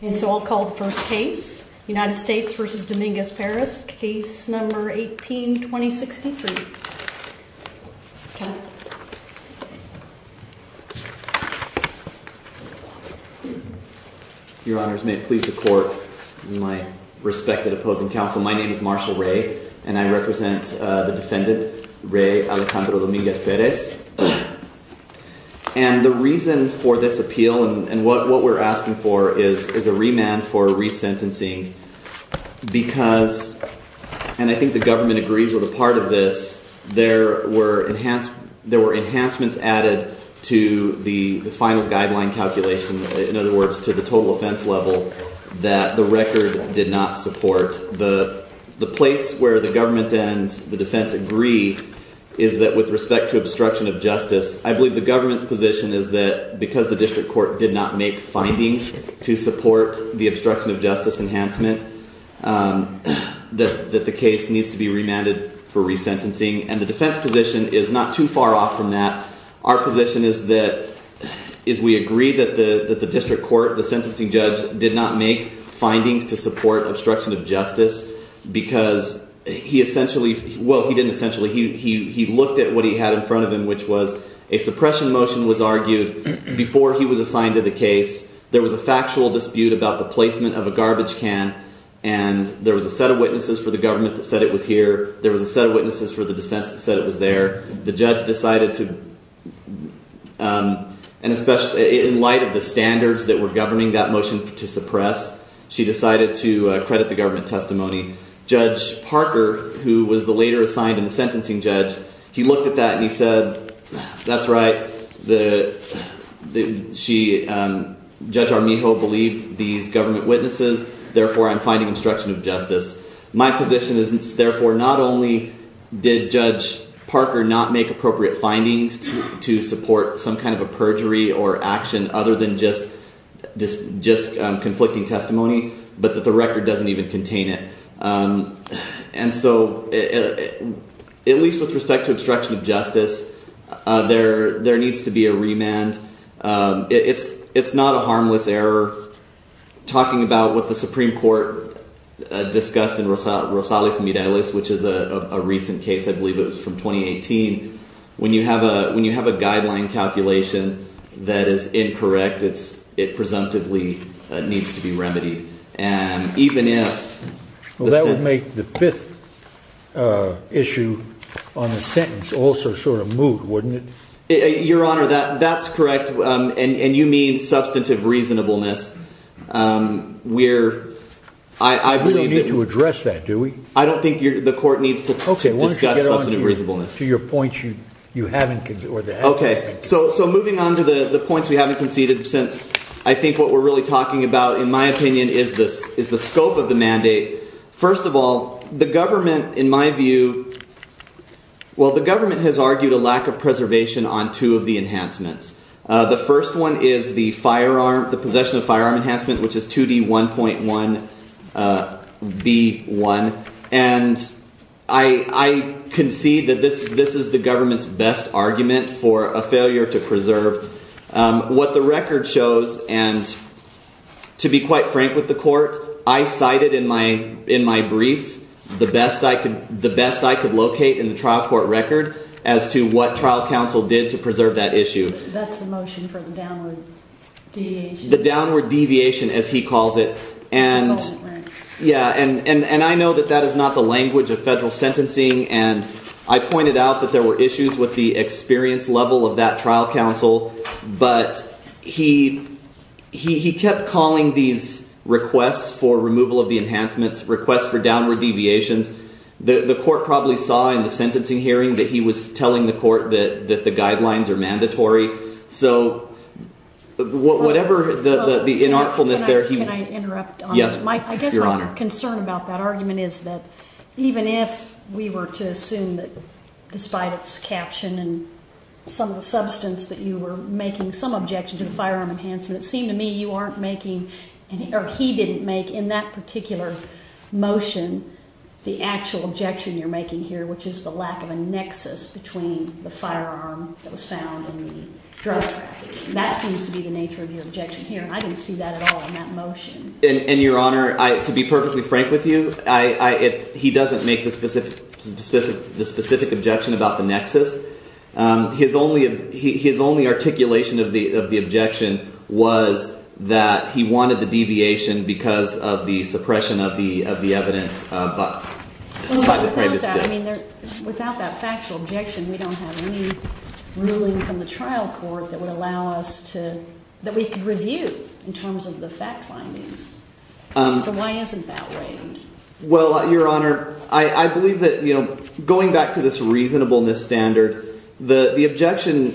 And so I'll call the first case, United States v. Dominguez-Perez, case number 18-2063. Your honors, may it please the court, my respected opposing counsel, my name is Marshall Ray, and I represent the defendant, Ray Alejandro Dominguez-Perez. And the reason for this appeal and what we're asking for is a remand for resentencing because, and I think the government agrees with a part of this, there were enhancements added to the final guideline calculation, in other words, to the total offense level that the record did not support. The place where the government and the defense agree is that with respect to obstruction of justice, I believe the government's position is that because the district court did not make findings to support the obstruction of justice enhancement, that the case needs to be remanded for resentencing. And the defense position is not too far off from that. Our position is that we agree that the district court, the sentencing judge, did not make findings to support obstruction of justice because he essentially, well, he didn't essentially, he looked at what he had in front of him, which was a suppression motion was argued before he was assigned to the case. There was a factual dispute about the placement of a garbage can, and there was a set of witnesses for the government that said it was here. There was a set of witnesses for the defense that said it was there. The judge decided to, and especially in light of the standards that were governing that motion to suppress, she decided to credit the government testimony. Judge Parker, who was the later assigned in the sentencing judge, he looked at that and he said, that's right, Judge Armijo believed these government witnesses, therefore, I'm finding obstruction of justice. My position is, therefore, not only did Judge Parker not make appropriate findings to support some kind of a perjury or action other than just conflicting testimony, but that the record doesn't even contain it. And so at least with respect to obstruction of justice, there needs to be a remand. It's not a harmless error. Talking about what the Supreme Court discussed in Rosales Mireles, which is a recent case, I believe it was from 2018, when you have a guideline calculation that is incorrect, it presumptively needs to be remedied. That would make the fifth issue on the sentence also sort of move, wouldn't it? Your Honor, that's correct. And you mean substantive reasonableness. We don't need to address that, do we? I don't think the court needs to discuss substantive reasonableness. Okay, why don't you get on to your points you haven't conceded. Okay, so moving on to the points we haven't conceded since I think what we're really talking about, in my opinion, is the scope of the mandate. First of all, the government, in my view, well, the government has argued a lack of preservation on two of the enhancements. The first one is the possession of firearm enhancement, which is 2D1.1B1. And I concede that this is the government's best argument for a failure to preserve. What the record shows, and to be quite frank with the court, I cited in my brief the best I could locate in the trial court record as to what trial counsel did to preserve that issue. That's the motion for the downward deviation. The downward deviation, as he calls it. And I know that that is not the language of federal sentencing. And I pointed out that there were issues with the experience level of that trial counsel. But he kept calling these requests for removal of the enhancements, requests for downward deviations. The court probably saw in the sentencing hearing that he was telling the court that the guidelines are mandatory. So whatever the inartfulness there. Can I interrupt? Yes, Your Honor. I guess my concern about that argument is that even if we were to assume that despite its caption and some of the substance that you were making, some objection to the firearm enhancement, it seemed to me you aren't making, or he didn't make in that particular motion, the actual objection you're making here, which is the lack of a nexus between the firearm that was found and the drug trafficking. That seems to be the nature of your objection here. I didn't see that at all in that motion. And, Your Honor, to be perfectly frank with you, he doesn't make the specific objection about the nexus. His only articulation of the objection was that he wanted the deviation because of the suppression of the evidence. But without that factual objection, we don't have any ruling from the trial court that would allow us to review in terms of the fact findings. So why isn't that right? Well, Your Honor, I believe that going back to this reasonableness standard, the objection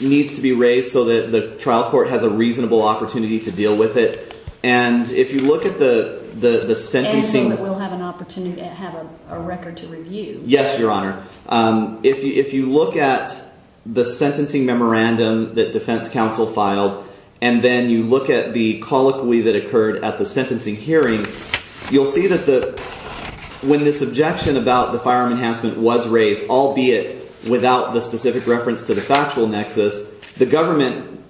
needs to be raised so that the trial court has a reasonable opportunity to deal with it. And if you look at the sentencing… And that we'll have an opportunity to have a record to review. Yes, Your Honor. If you look at the sentencing memorandum that defense counsel filed and then you look at the colloquy that occurred at the sentencing hearing, you'll see that when this objection about the firearm enhancement was raised, albeit without the specific reference to the factual nexus, the government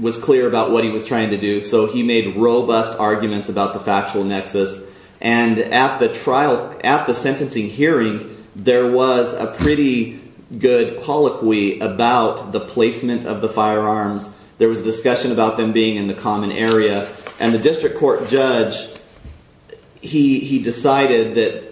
was clear about what he was trying to do. So he made robust arguments about the factual nexus. And at the trial – at the sentencing hearing, there was a pretty good colloquy about the placement of the firearms. There was a discussion about them being in the common area. And the district court judge, he decided that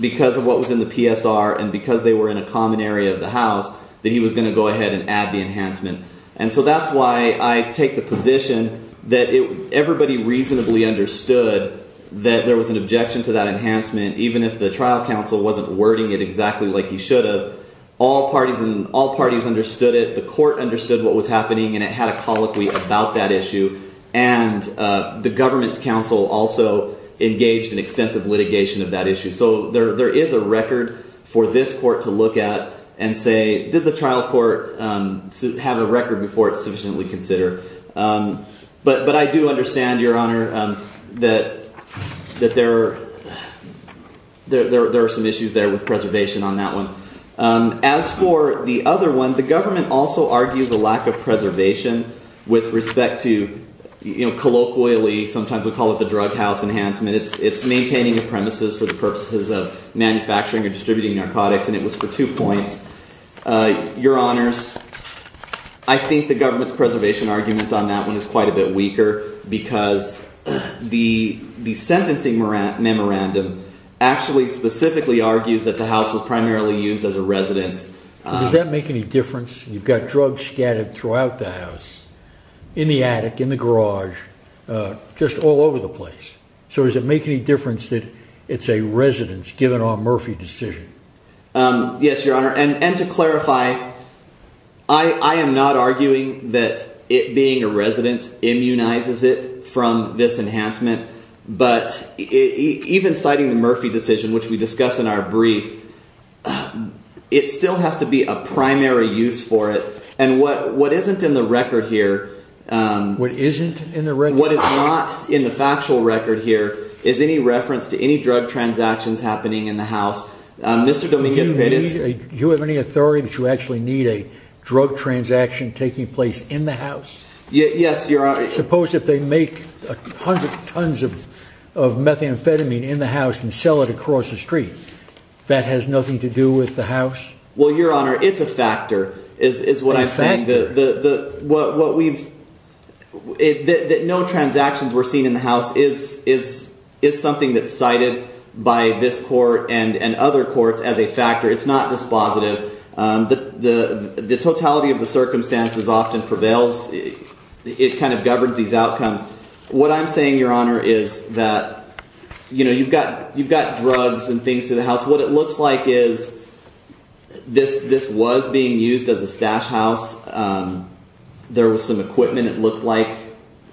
because of what was in the PSR and because they were in a common area of the house that he was going to go ahead and add the enhancement. And so that's why I take the position that everybody reasonably understood that there was an objection to that enhancement, even if the trial counsel wasn't wording it exactly like he should have. All parties – all parties understood it. The court understood what was happening and it had a colloquy about that issue. And the government's counsel also engaged in extensive litigation of that issue. So there is a record for this court to look at and say, did the trial court have a record before it's sufficiently considered? But I do understand, Your Honor, that there are some issues there with preservation on that one. As for the other one, the government also argues a lack of preservation with respect to – colloquially, sometimes we call it the drug house enhancement. It's maintaining the premises for the purposes of manufacturing or distributing narcotics, and it was for two points. Your Honors, I think the government's preservation argument on that one is quite a bit weaker because the sentencing memorandum actually specifically argues that the house was primarily used as a residence. Does that make any difference? You've got drugs scattered throughout the house, in the attic, in the garage, just all over the place. So does it make any difference that it's a residence given our Murphy decision? Yes, Your Honor. And to clarify, I am not arguing that it being a residence immunizes it from this enhancement. But even citing the Murphy decision, which we discuss in our brief, it still has to be a primary use for it. And what isn't in the record here – What isn't in the record? – is any reference to any drug transactions happening in the house. Mr. Dominguez-Perez? Do you have any authority that you actually need a drug transaction taking place in the house? Yes, Your Honor. Suppose if they make 100 tons of methamphetamine in the house and sell it across the street. That has nothing to do with the house? Well, Your Honor, it's a factor, is what I'm saying. A factor. No transactions were seen in the house is something that's cited by this court and other courts as a factor. It's not dispositive. The totality of the circumstances often prevails. It kind of governs these outcomes. What I'm saying, Your Honor, is that you've got drugs and things to the house. What it looks like is this was being used as a stash house. There was some equipment, it looked like,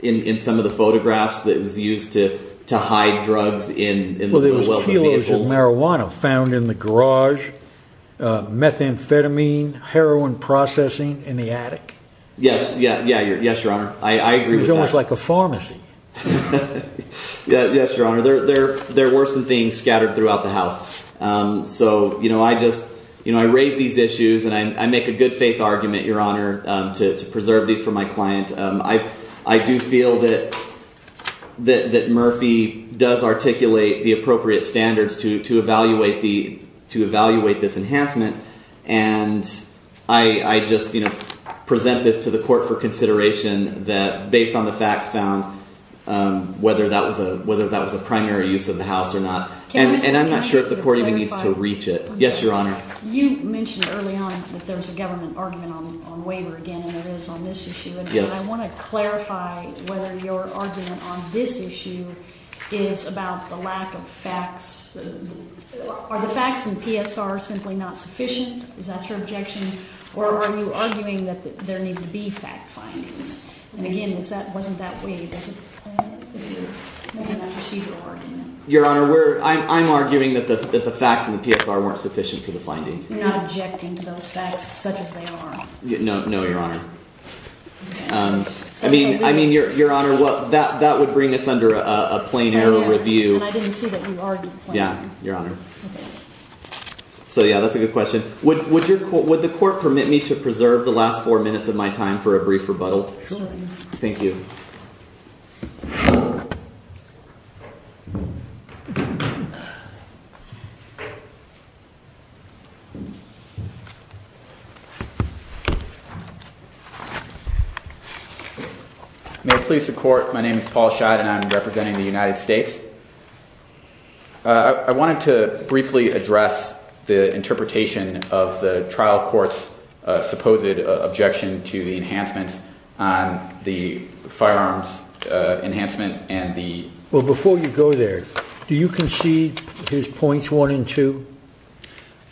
in some of the photographs that was used to hide drugs in the wealthy vehicles. Well, there was kilos of marijuana found in the garage, methamphetamine, heroin processing in the attic. Yes, Your Honor. I agree with that. It was almost like a pharmacy. Yes, Your Honor. There were some things scattered throughout the house. I raise these issues and I make a good faith argument, Your Honor, to preserve these for my client. I do feel that Murphy does articulate the appropriate standards to evaluate this enhancement. And I just present this to the court for consideration based on the facts found, whether that was a primary use of the house or not. And I'm not sure if the court even needs to reach it. Yes, Your Honor. You mentioned early on that there was a government argument on waiver again, and there is on this issue. And I want to clarify whether your argument on this issue is about the lack of facts. Are the facts in PSR simply not sufficient? Is that your objection? Or are you arguing that there need to be fact findings? And, again, wasn't that waived as a procedural argument? Your Honor, I'm arguing that the facts in the PSR weren't sufficient for the findings. You're not objecting to those facts such as they are? No, Your Honor. I mean, Your Honor, that would bring us under a plain error review. And I didn't see that you argued plainly. Yes, Your Honor. Okay. So, yes, that's a good question. Would the court permit me to preserve the last four minutes of my time for a brief rebuttal? Certainly. Thank you. May it please the Court, my name is Paul Schott, and I'm representing the United States. I wanted to briefly address the interpretation of the trial court's supposed objection to the enhancements on the firearms enhancement and the ---- Well, before you go there, do you concede his points one and two?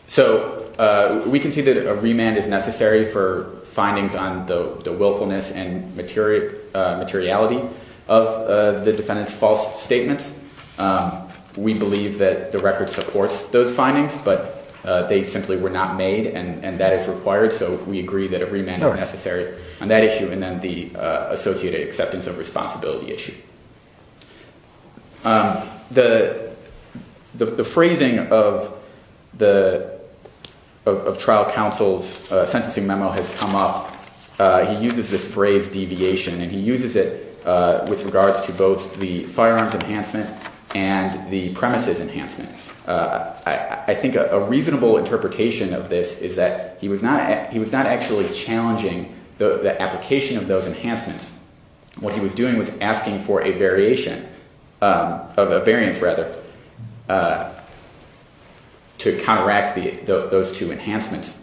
So we concede that a remand is necessary for findings on the willfulness and materiality of the defendant's false statements. We believe that the record supports those findings, but they simply were not made, and that is required. So we agree that a remand is necessary on that issue, and then the associated acceptance of responsibility issue. The phrasing of trial counsel's sentencing memo has come up. He uses this phrase deviation, and he uses it with regards to both the firearms enhancement and the premises enhancement. I think a reasonable interpretation of this is that he was not actually challenging the application of those enhancements. What he was doing was asking for a variation, a variance rather, to counteract those two enhancements.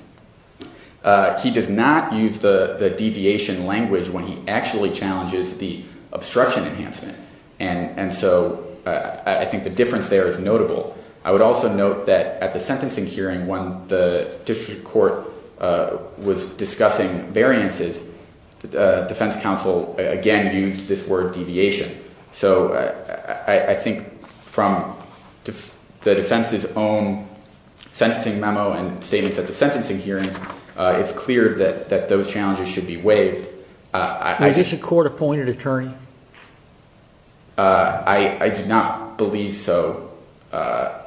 He does not use the deviation language when he actually challenges the obstruction enhancement, and so I think the difference there is notable. I would also note that at the sentencing hearing when the district court was discussing variances, defense counsel again used this word deviation. So I think from the defense's own sentencing memo and statements at the sentencing hearing, it's clear that those challenges should be waived. Is this a court-appointed attorney? I do not believe so. I'm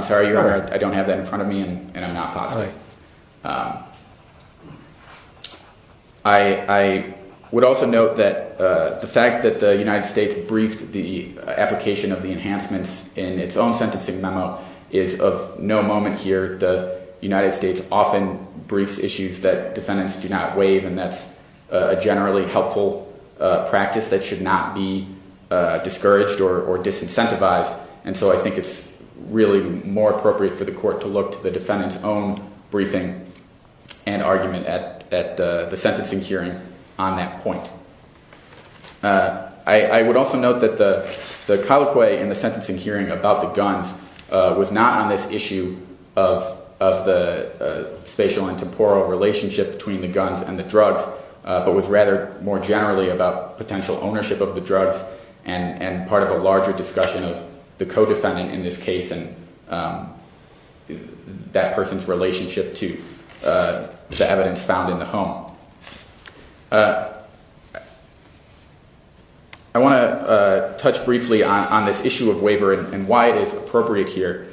sorry, Your Honor, I don't have that in front of me, and I'm not positive. I would also note that the fact that the United States briefed the application of the enhancements in its own sentencing memo is of no moment here. The United States often briefs issues that defendants do not waive, and that's a generally helpful practice that should not be discouraged or disincentivized, and so I think it's really more appropriate for the court to look to the defendant's own briefing and argument at the sentencing hearing on that point. I would also note that the colloquy in the sentencing hearing about the guns was not on this issue of the spatial and temporal relationship between the guns and the drugs, but was rather more generally about potential ownership of the drugs and part of a larger discussion of the co-defendant in this case and that person's relationship to the evidence found in the home. I want to touch briefly on this issue of waiver and why it is appropriate here.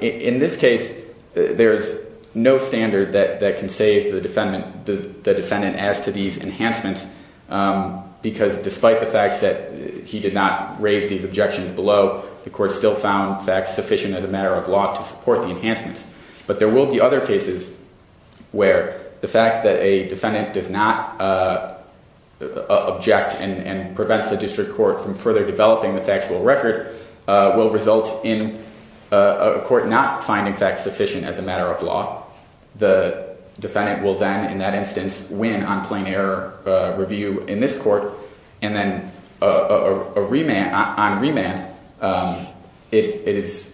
In this case, there is no standard that can save the defendant as to these enhancements, because despite the fact that he did not raise these objections below, the court still found facts sufficient as a matter of law to support the enhancements. But there will be other cases where the fact that a defendant does not object and prevents the district court from further developing the factual record will result in a court not finding facts sufficient as a matter of law. The defendant will then, in that instance, win on plain error review in this court, and then on remand, it is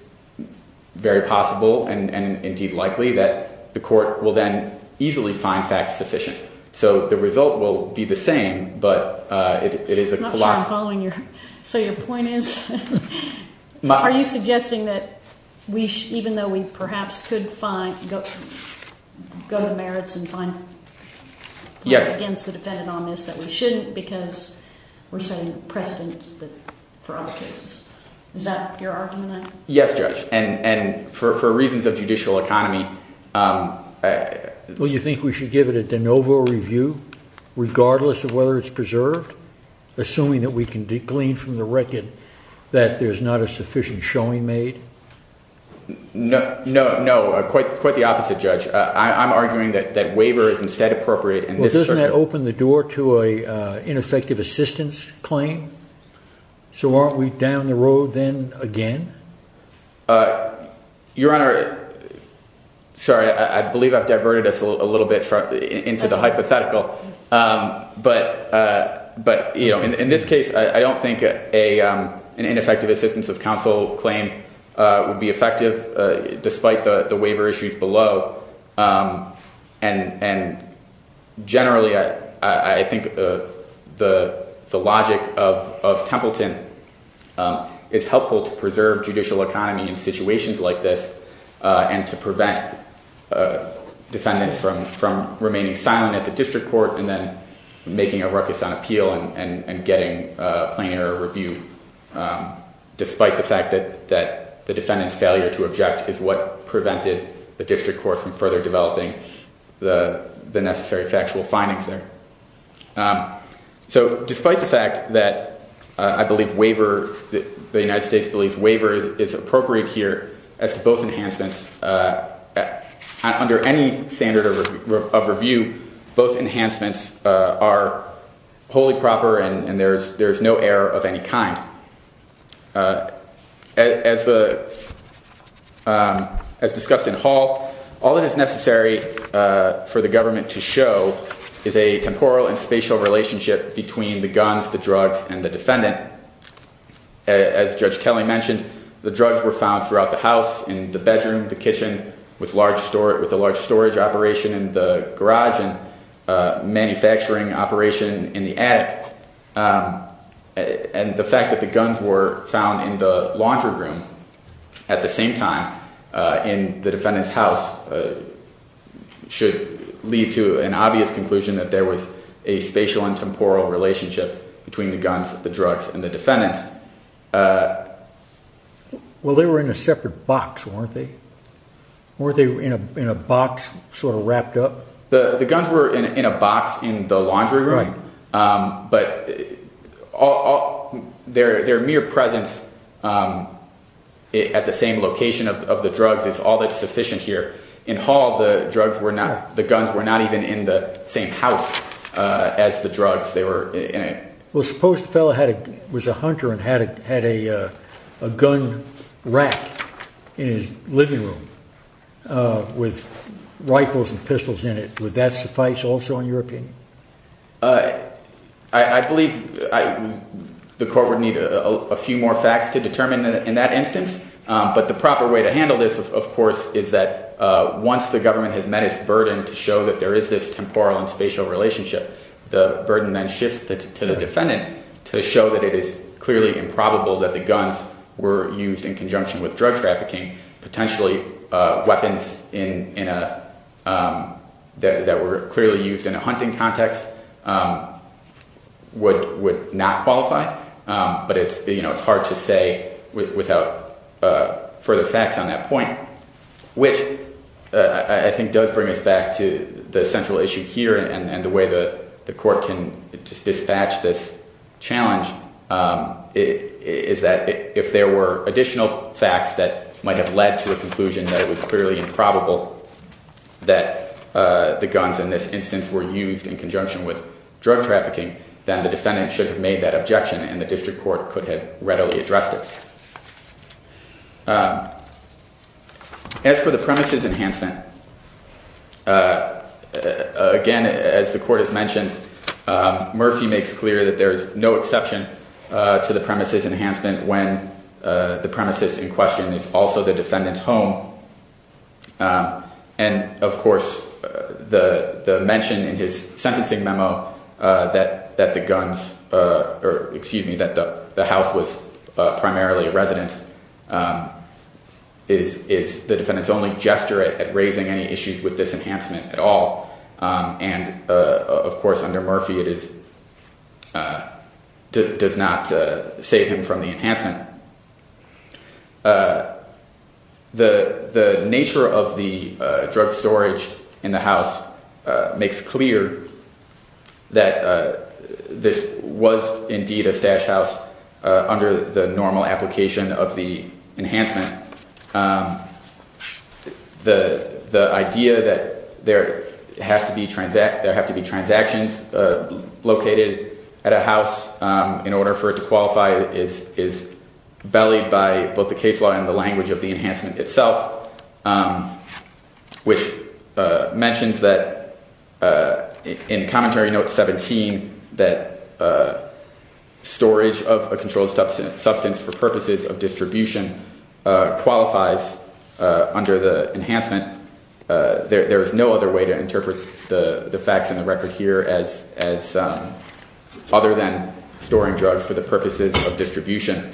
very possible and indeed likely that the court will then easily find facts sufficient. So the result will be the same, but it is a colossal... We're saying precedent for other cases. Is that your argument? Yes, Judge, and for reasons of judicial economy... Well, you think we should give it a de novo review regardless of whether it's preserved, assuming that we can glean from the record that there's not a sufficient showing made? No, quite the opposite, Judge. I'm arguing that waiver is instead appropriate in this circuit. Doesn't that open the door to an ineffective assistance claim? So aren't we down the road then again? Your Honor, sorry, I believe I've diverted us a little bit into the hypothetical. But in this case, I don't think an ineffective assistance of counsel claim would be effective despite the waiver issues below. And generally, I think the logic of Templeton is helpful to preserve judicial economy in situations like this and to prevent defendants from remaining silent at the district court and then making a ruckus on appeal and getting plain error review, despite the fact that the defendant's failure to object is what prevented the district court from further developing the necessary factual findings there. So despite the fact that I believe the United States believes waiver is appropriate here as to both enhancements, under any standard of review, both enhancements are wholly proper and there's no error of any kind. As discussed in Hall, all that is necessary for the government to show is a temporal and spatial relationship between the guns, the drugs, and the defendant. As Judge Kelly mentioned, the drugs were found throughout the house, in the bedroom, the kitchen, with a large storage operation in the garage and manufacturing operation in the attic. And the fact that the guns were found in the laundry room at the same time in the defendant's house should lead to an obvious conclusion that there was a spatial and temporal relationship between the guns, the drugs, and the defendants. Well, they were in a separate box, weren't they? Weren't they in a box sort of wrapped up? The guns were in a box in the laundry room, but their mere presence at the same location of the drugs is all that's sufficient here. In Hall, the guns were not even in the same house as the drugs. Well, suppose the fellow was a hunter and had a gun rack in his living room with rifles and pistols in it. Would that suffice also in your opinion? I believe the court would need a few more facts to determine in that instance. But the proper way to handle this, of course, is that once the government has met its burden to show that there is this temporal and spatial relationship, the burden then shifts to the defendant to show that it is clearly improbable that the guns were used in conjunction with drug trafficking. Potentially, weapons that were clearly used in a hunting context would not qualify. But it's hard to say without further facts on that point, which I think does bring us back to the central issue here and the way the court can dispatch this challenge is that if there were additional facts that might have led to a conclusion that it was clearly improbable that the guns in this instance were used in conjunction with drug trafficking, then the defendant should have made that objection and the district court could have readily addressed it. As for the premises enhancement, again, as the court has mentioned, Murphy makes clear that there is no exception to the premises enhancement when the premises in question is also the defendant's home. And, of course, the mention in his sentencing memo that the house was primarily a residence is the defendant's only gesture at raising any issues with this enhancement at all. And, of course, under Murphy, it does not save him from the enhancement. The nature of the drug storage in the house makes clear that this was indeed a stash house under the normal application of the enhancement. The idea that there have to be transactions located at a house in order for it to qualify is bellied by both the case law and the language of the enhancement itself, which mentions that in commentary note 17 that storage of a controlled substance for purposes of distribution qualifies under the enhancement. There is no other way to interpret the facts in the record here other than storing drugs for the purposes of distribution.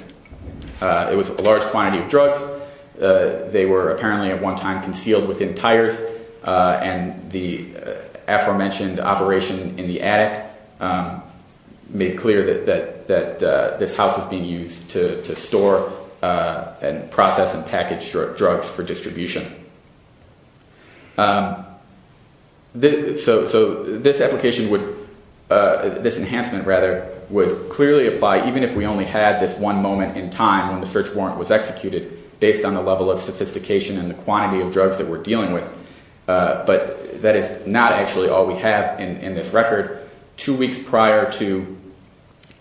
It was a large quantity of drugs. They were apparently at one time concealed within tires, and the aforementioned operation in the attic made clear that this house was being used to store and process and package drugs for distribution. So this enhancement would clearly apply even if we only had this one moment in time when the search warrant was executed based on the level of sophistication and the quantity of drugs that we're dealing with. But that is not actually all we have in this record. Two weeks prior to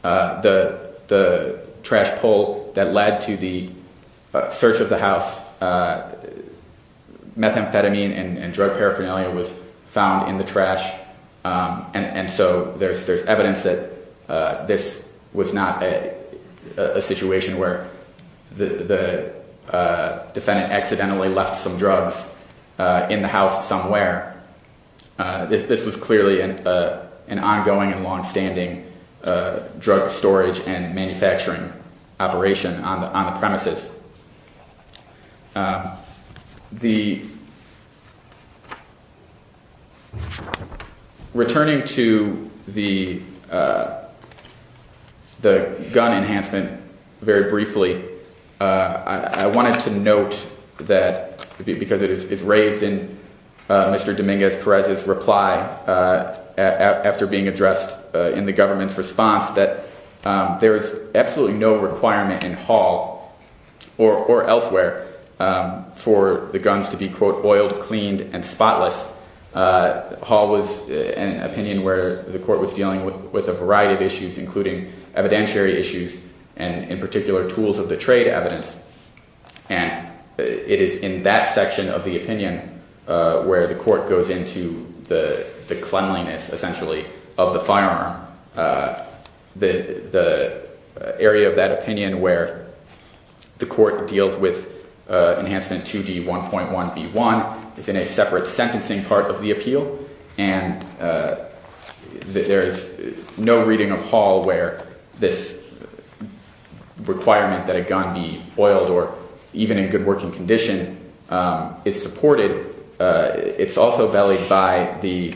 the trash pull that led to the search of the house, methamphetamine and drug paraphernalia was found in the trash, and so there's evidence that this was not a situation where the defendant accidentally left some drugs in the house somewhere. This was clearly an ongoing and longstanding drug storage and manufacturing operation on the premises. Returning to the gun enhancement very briefly, I wanted to note that, because it is raised in Mr. Dominguez-Perez's reply after being addressed in the government's response, that there is absolutely no requirement in Hall or elsewhere for the guns to be, quote, oiled, cleaned, and spotless. Hall was in an opinion where the court was dealing with a variety of issues, including evidentiary issues and, in particular, tools of the trade evidence. And it is in that section of the opinion where the court goes into the cleanliness, essentially, of the firearm, the area of that opinion where the court deals with enhancement 2D1.1b1 is in a separate sentencing part of the appeal, and there is no reading of Hall where this requirement that a gun be oiled or even in good working condition is supported. It's also bellied by the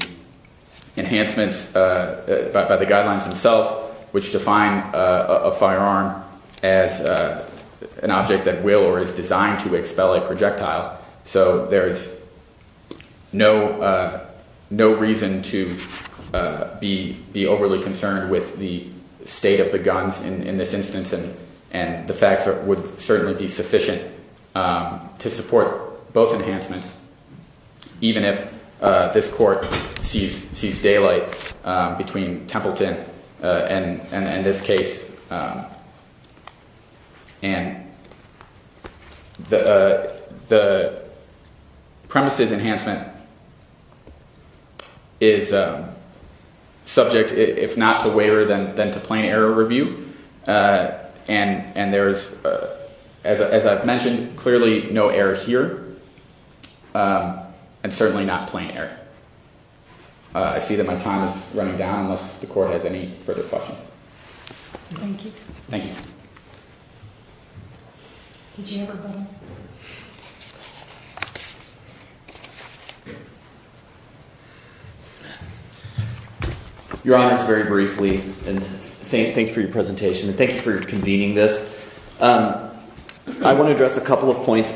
enhancements, by the guidelines themselves, which define a firearm as an object that will or is designed to expel a projectile. So there is no reason to be overly concerned with the state of the guns in this instance, and the facts would certainly be sufficient to support both enhancements, even if this court sees daylight between Templeton and this case. And the premises enhancement is subject, if not to waiver, then to plain error review. And there is, as I've mentioned, clearly no error here, and certainly not plain error. I see that my time is running down unless the court has any further questions. Thank you. Thank you. Did you have a comment? Your Honor, it's very briefly, and thank you for your presentation, and thank you for convening this. I want to address a couple of points.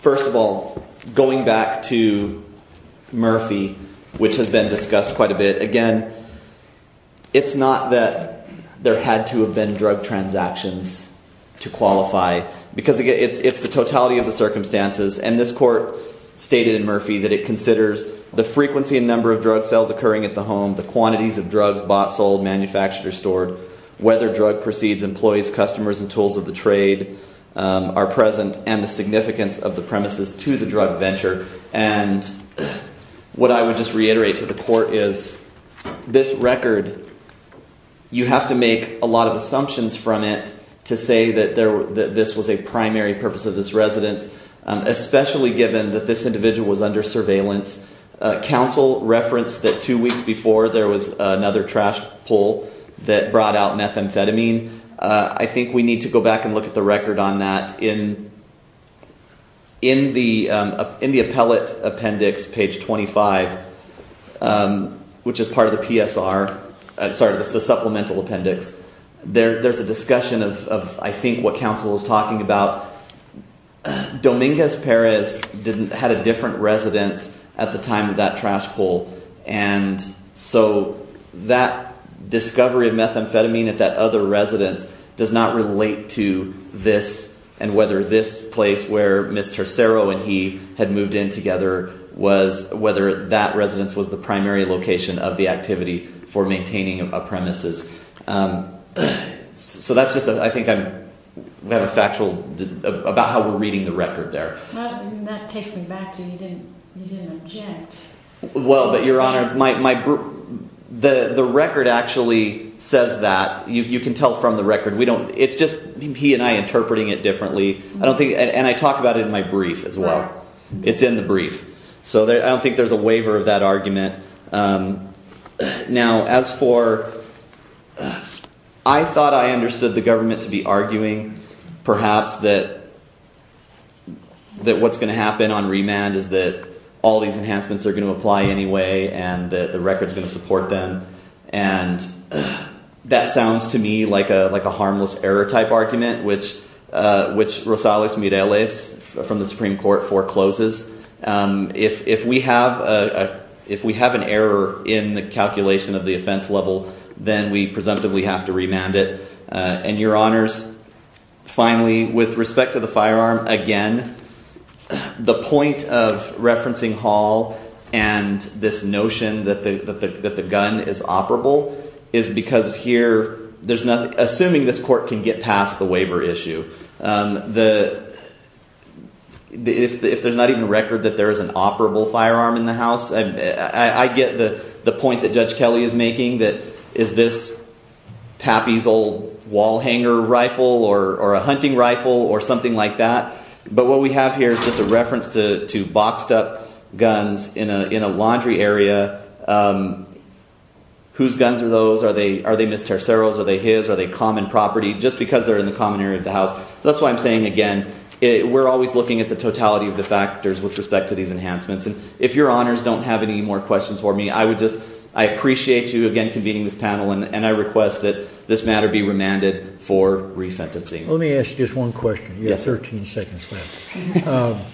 First of all, going back to Murphy, which has been discussed quite a bit, again, it's not that there had to have been drug transactions to qualify, because it's the totality of the circumstances. And this court stated in Murphy that it considers the frequency and number of drug sales occurring at the home, the quantities of drugs bought, sold, manufactured, or stored, whether drug proceeds, employees, customers, and tools of the trade are present, and the significance of the premises to the drug venture. And what I would just reiterate to the court is this record, you have to make a lot of assumptions from it to say that this was a primary purpose of this residence, especially given that this individual was under surveillance. Counsel referenced that two weeks before there was another trash pull that brought out methamphetamine. I think we need to go back and look at the record on that. In the appellate appendix, page 25, which is part of the PSR, sorry, the supplemental appendix, there's a discussion of, I think, what counsel is talking about. Dominguez Perez had a different residence at the time of that trash pull, and so that discovery of methamphetamine at that other residence does not relate to this and whether this place where Ms. Tercero and he had moved in together was, whether that residence was the primary location of the activity for maintaining a premises. So that's just, I think, we have a factual, about how we're reading the record there. That takes me back to, you didn't object. Well, but Your Honor, the record actually says that. You can tell from the record. It's just he and I interpreting it differently, and I talk about it in my brief as well. It's in the brief. So I don't think there's a waiver of that argument. Now, as for, I thought I understood the government to be arguing, perhaps, that what's going to happen on remand is that all these enhancements are going to apply anyway and that the record's going to support them, and that sounds to me like a harmless error type argument, which Rosales Mireles from the Supreme Court forecloses. If we have an error in the calculation of the offense level, then we presumptively have to remand it. And, Your Honors, finally, with respect to the firearm, again, the point of referencing Hall and this notion that the gun is operable is because here, assuming this court can get past the waiver issue, if there's not even a record that there is an operable firearm in the house, I get the point that Judge Kelly is making that is this Pappy's old wall hanger rifle or a hunting rifle or something like that, but what we have here is just a reference to boxed-up guns in a laundry area. Whose guns are those? Are they Ms. Tercero's? Are they his? Are they common property? Just because they're in the common area of the house. That's why I'm saying, again, we're always looking at the totality of the factors with respect to these enhancements. And if Your Honors don't have any more questions for me, I appreciate you, again, convening this panel, and I request that this matter be remanded for resentencing. Let me ask just one question. You have 13 seconds left.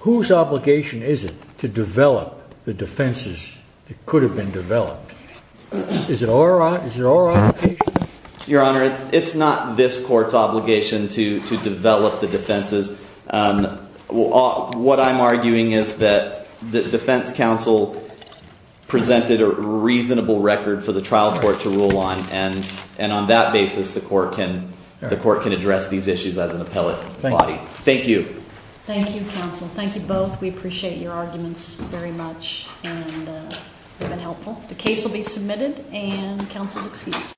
Whose obligation is it to develop the defenses that could have been developed? Is it our obligation? Your Honor, it's not this court's obligation to develop the defenses. What I'm arguing is that the defense counsel presented a reasonable record for the trial court to rule on, and on that basis the court can address these issues as an appellate body. Thank you. Thank you, counsel. Thank you both. We appreciate your arguments very much and have been helpful. The case will be submitted and counsel is excused.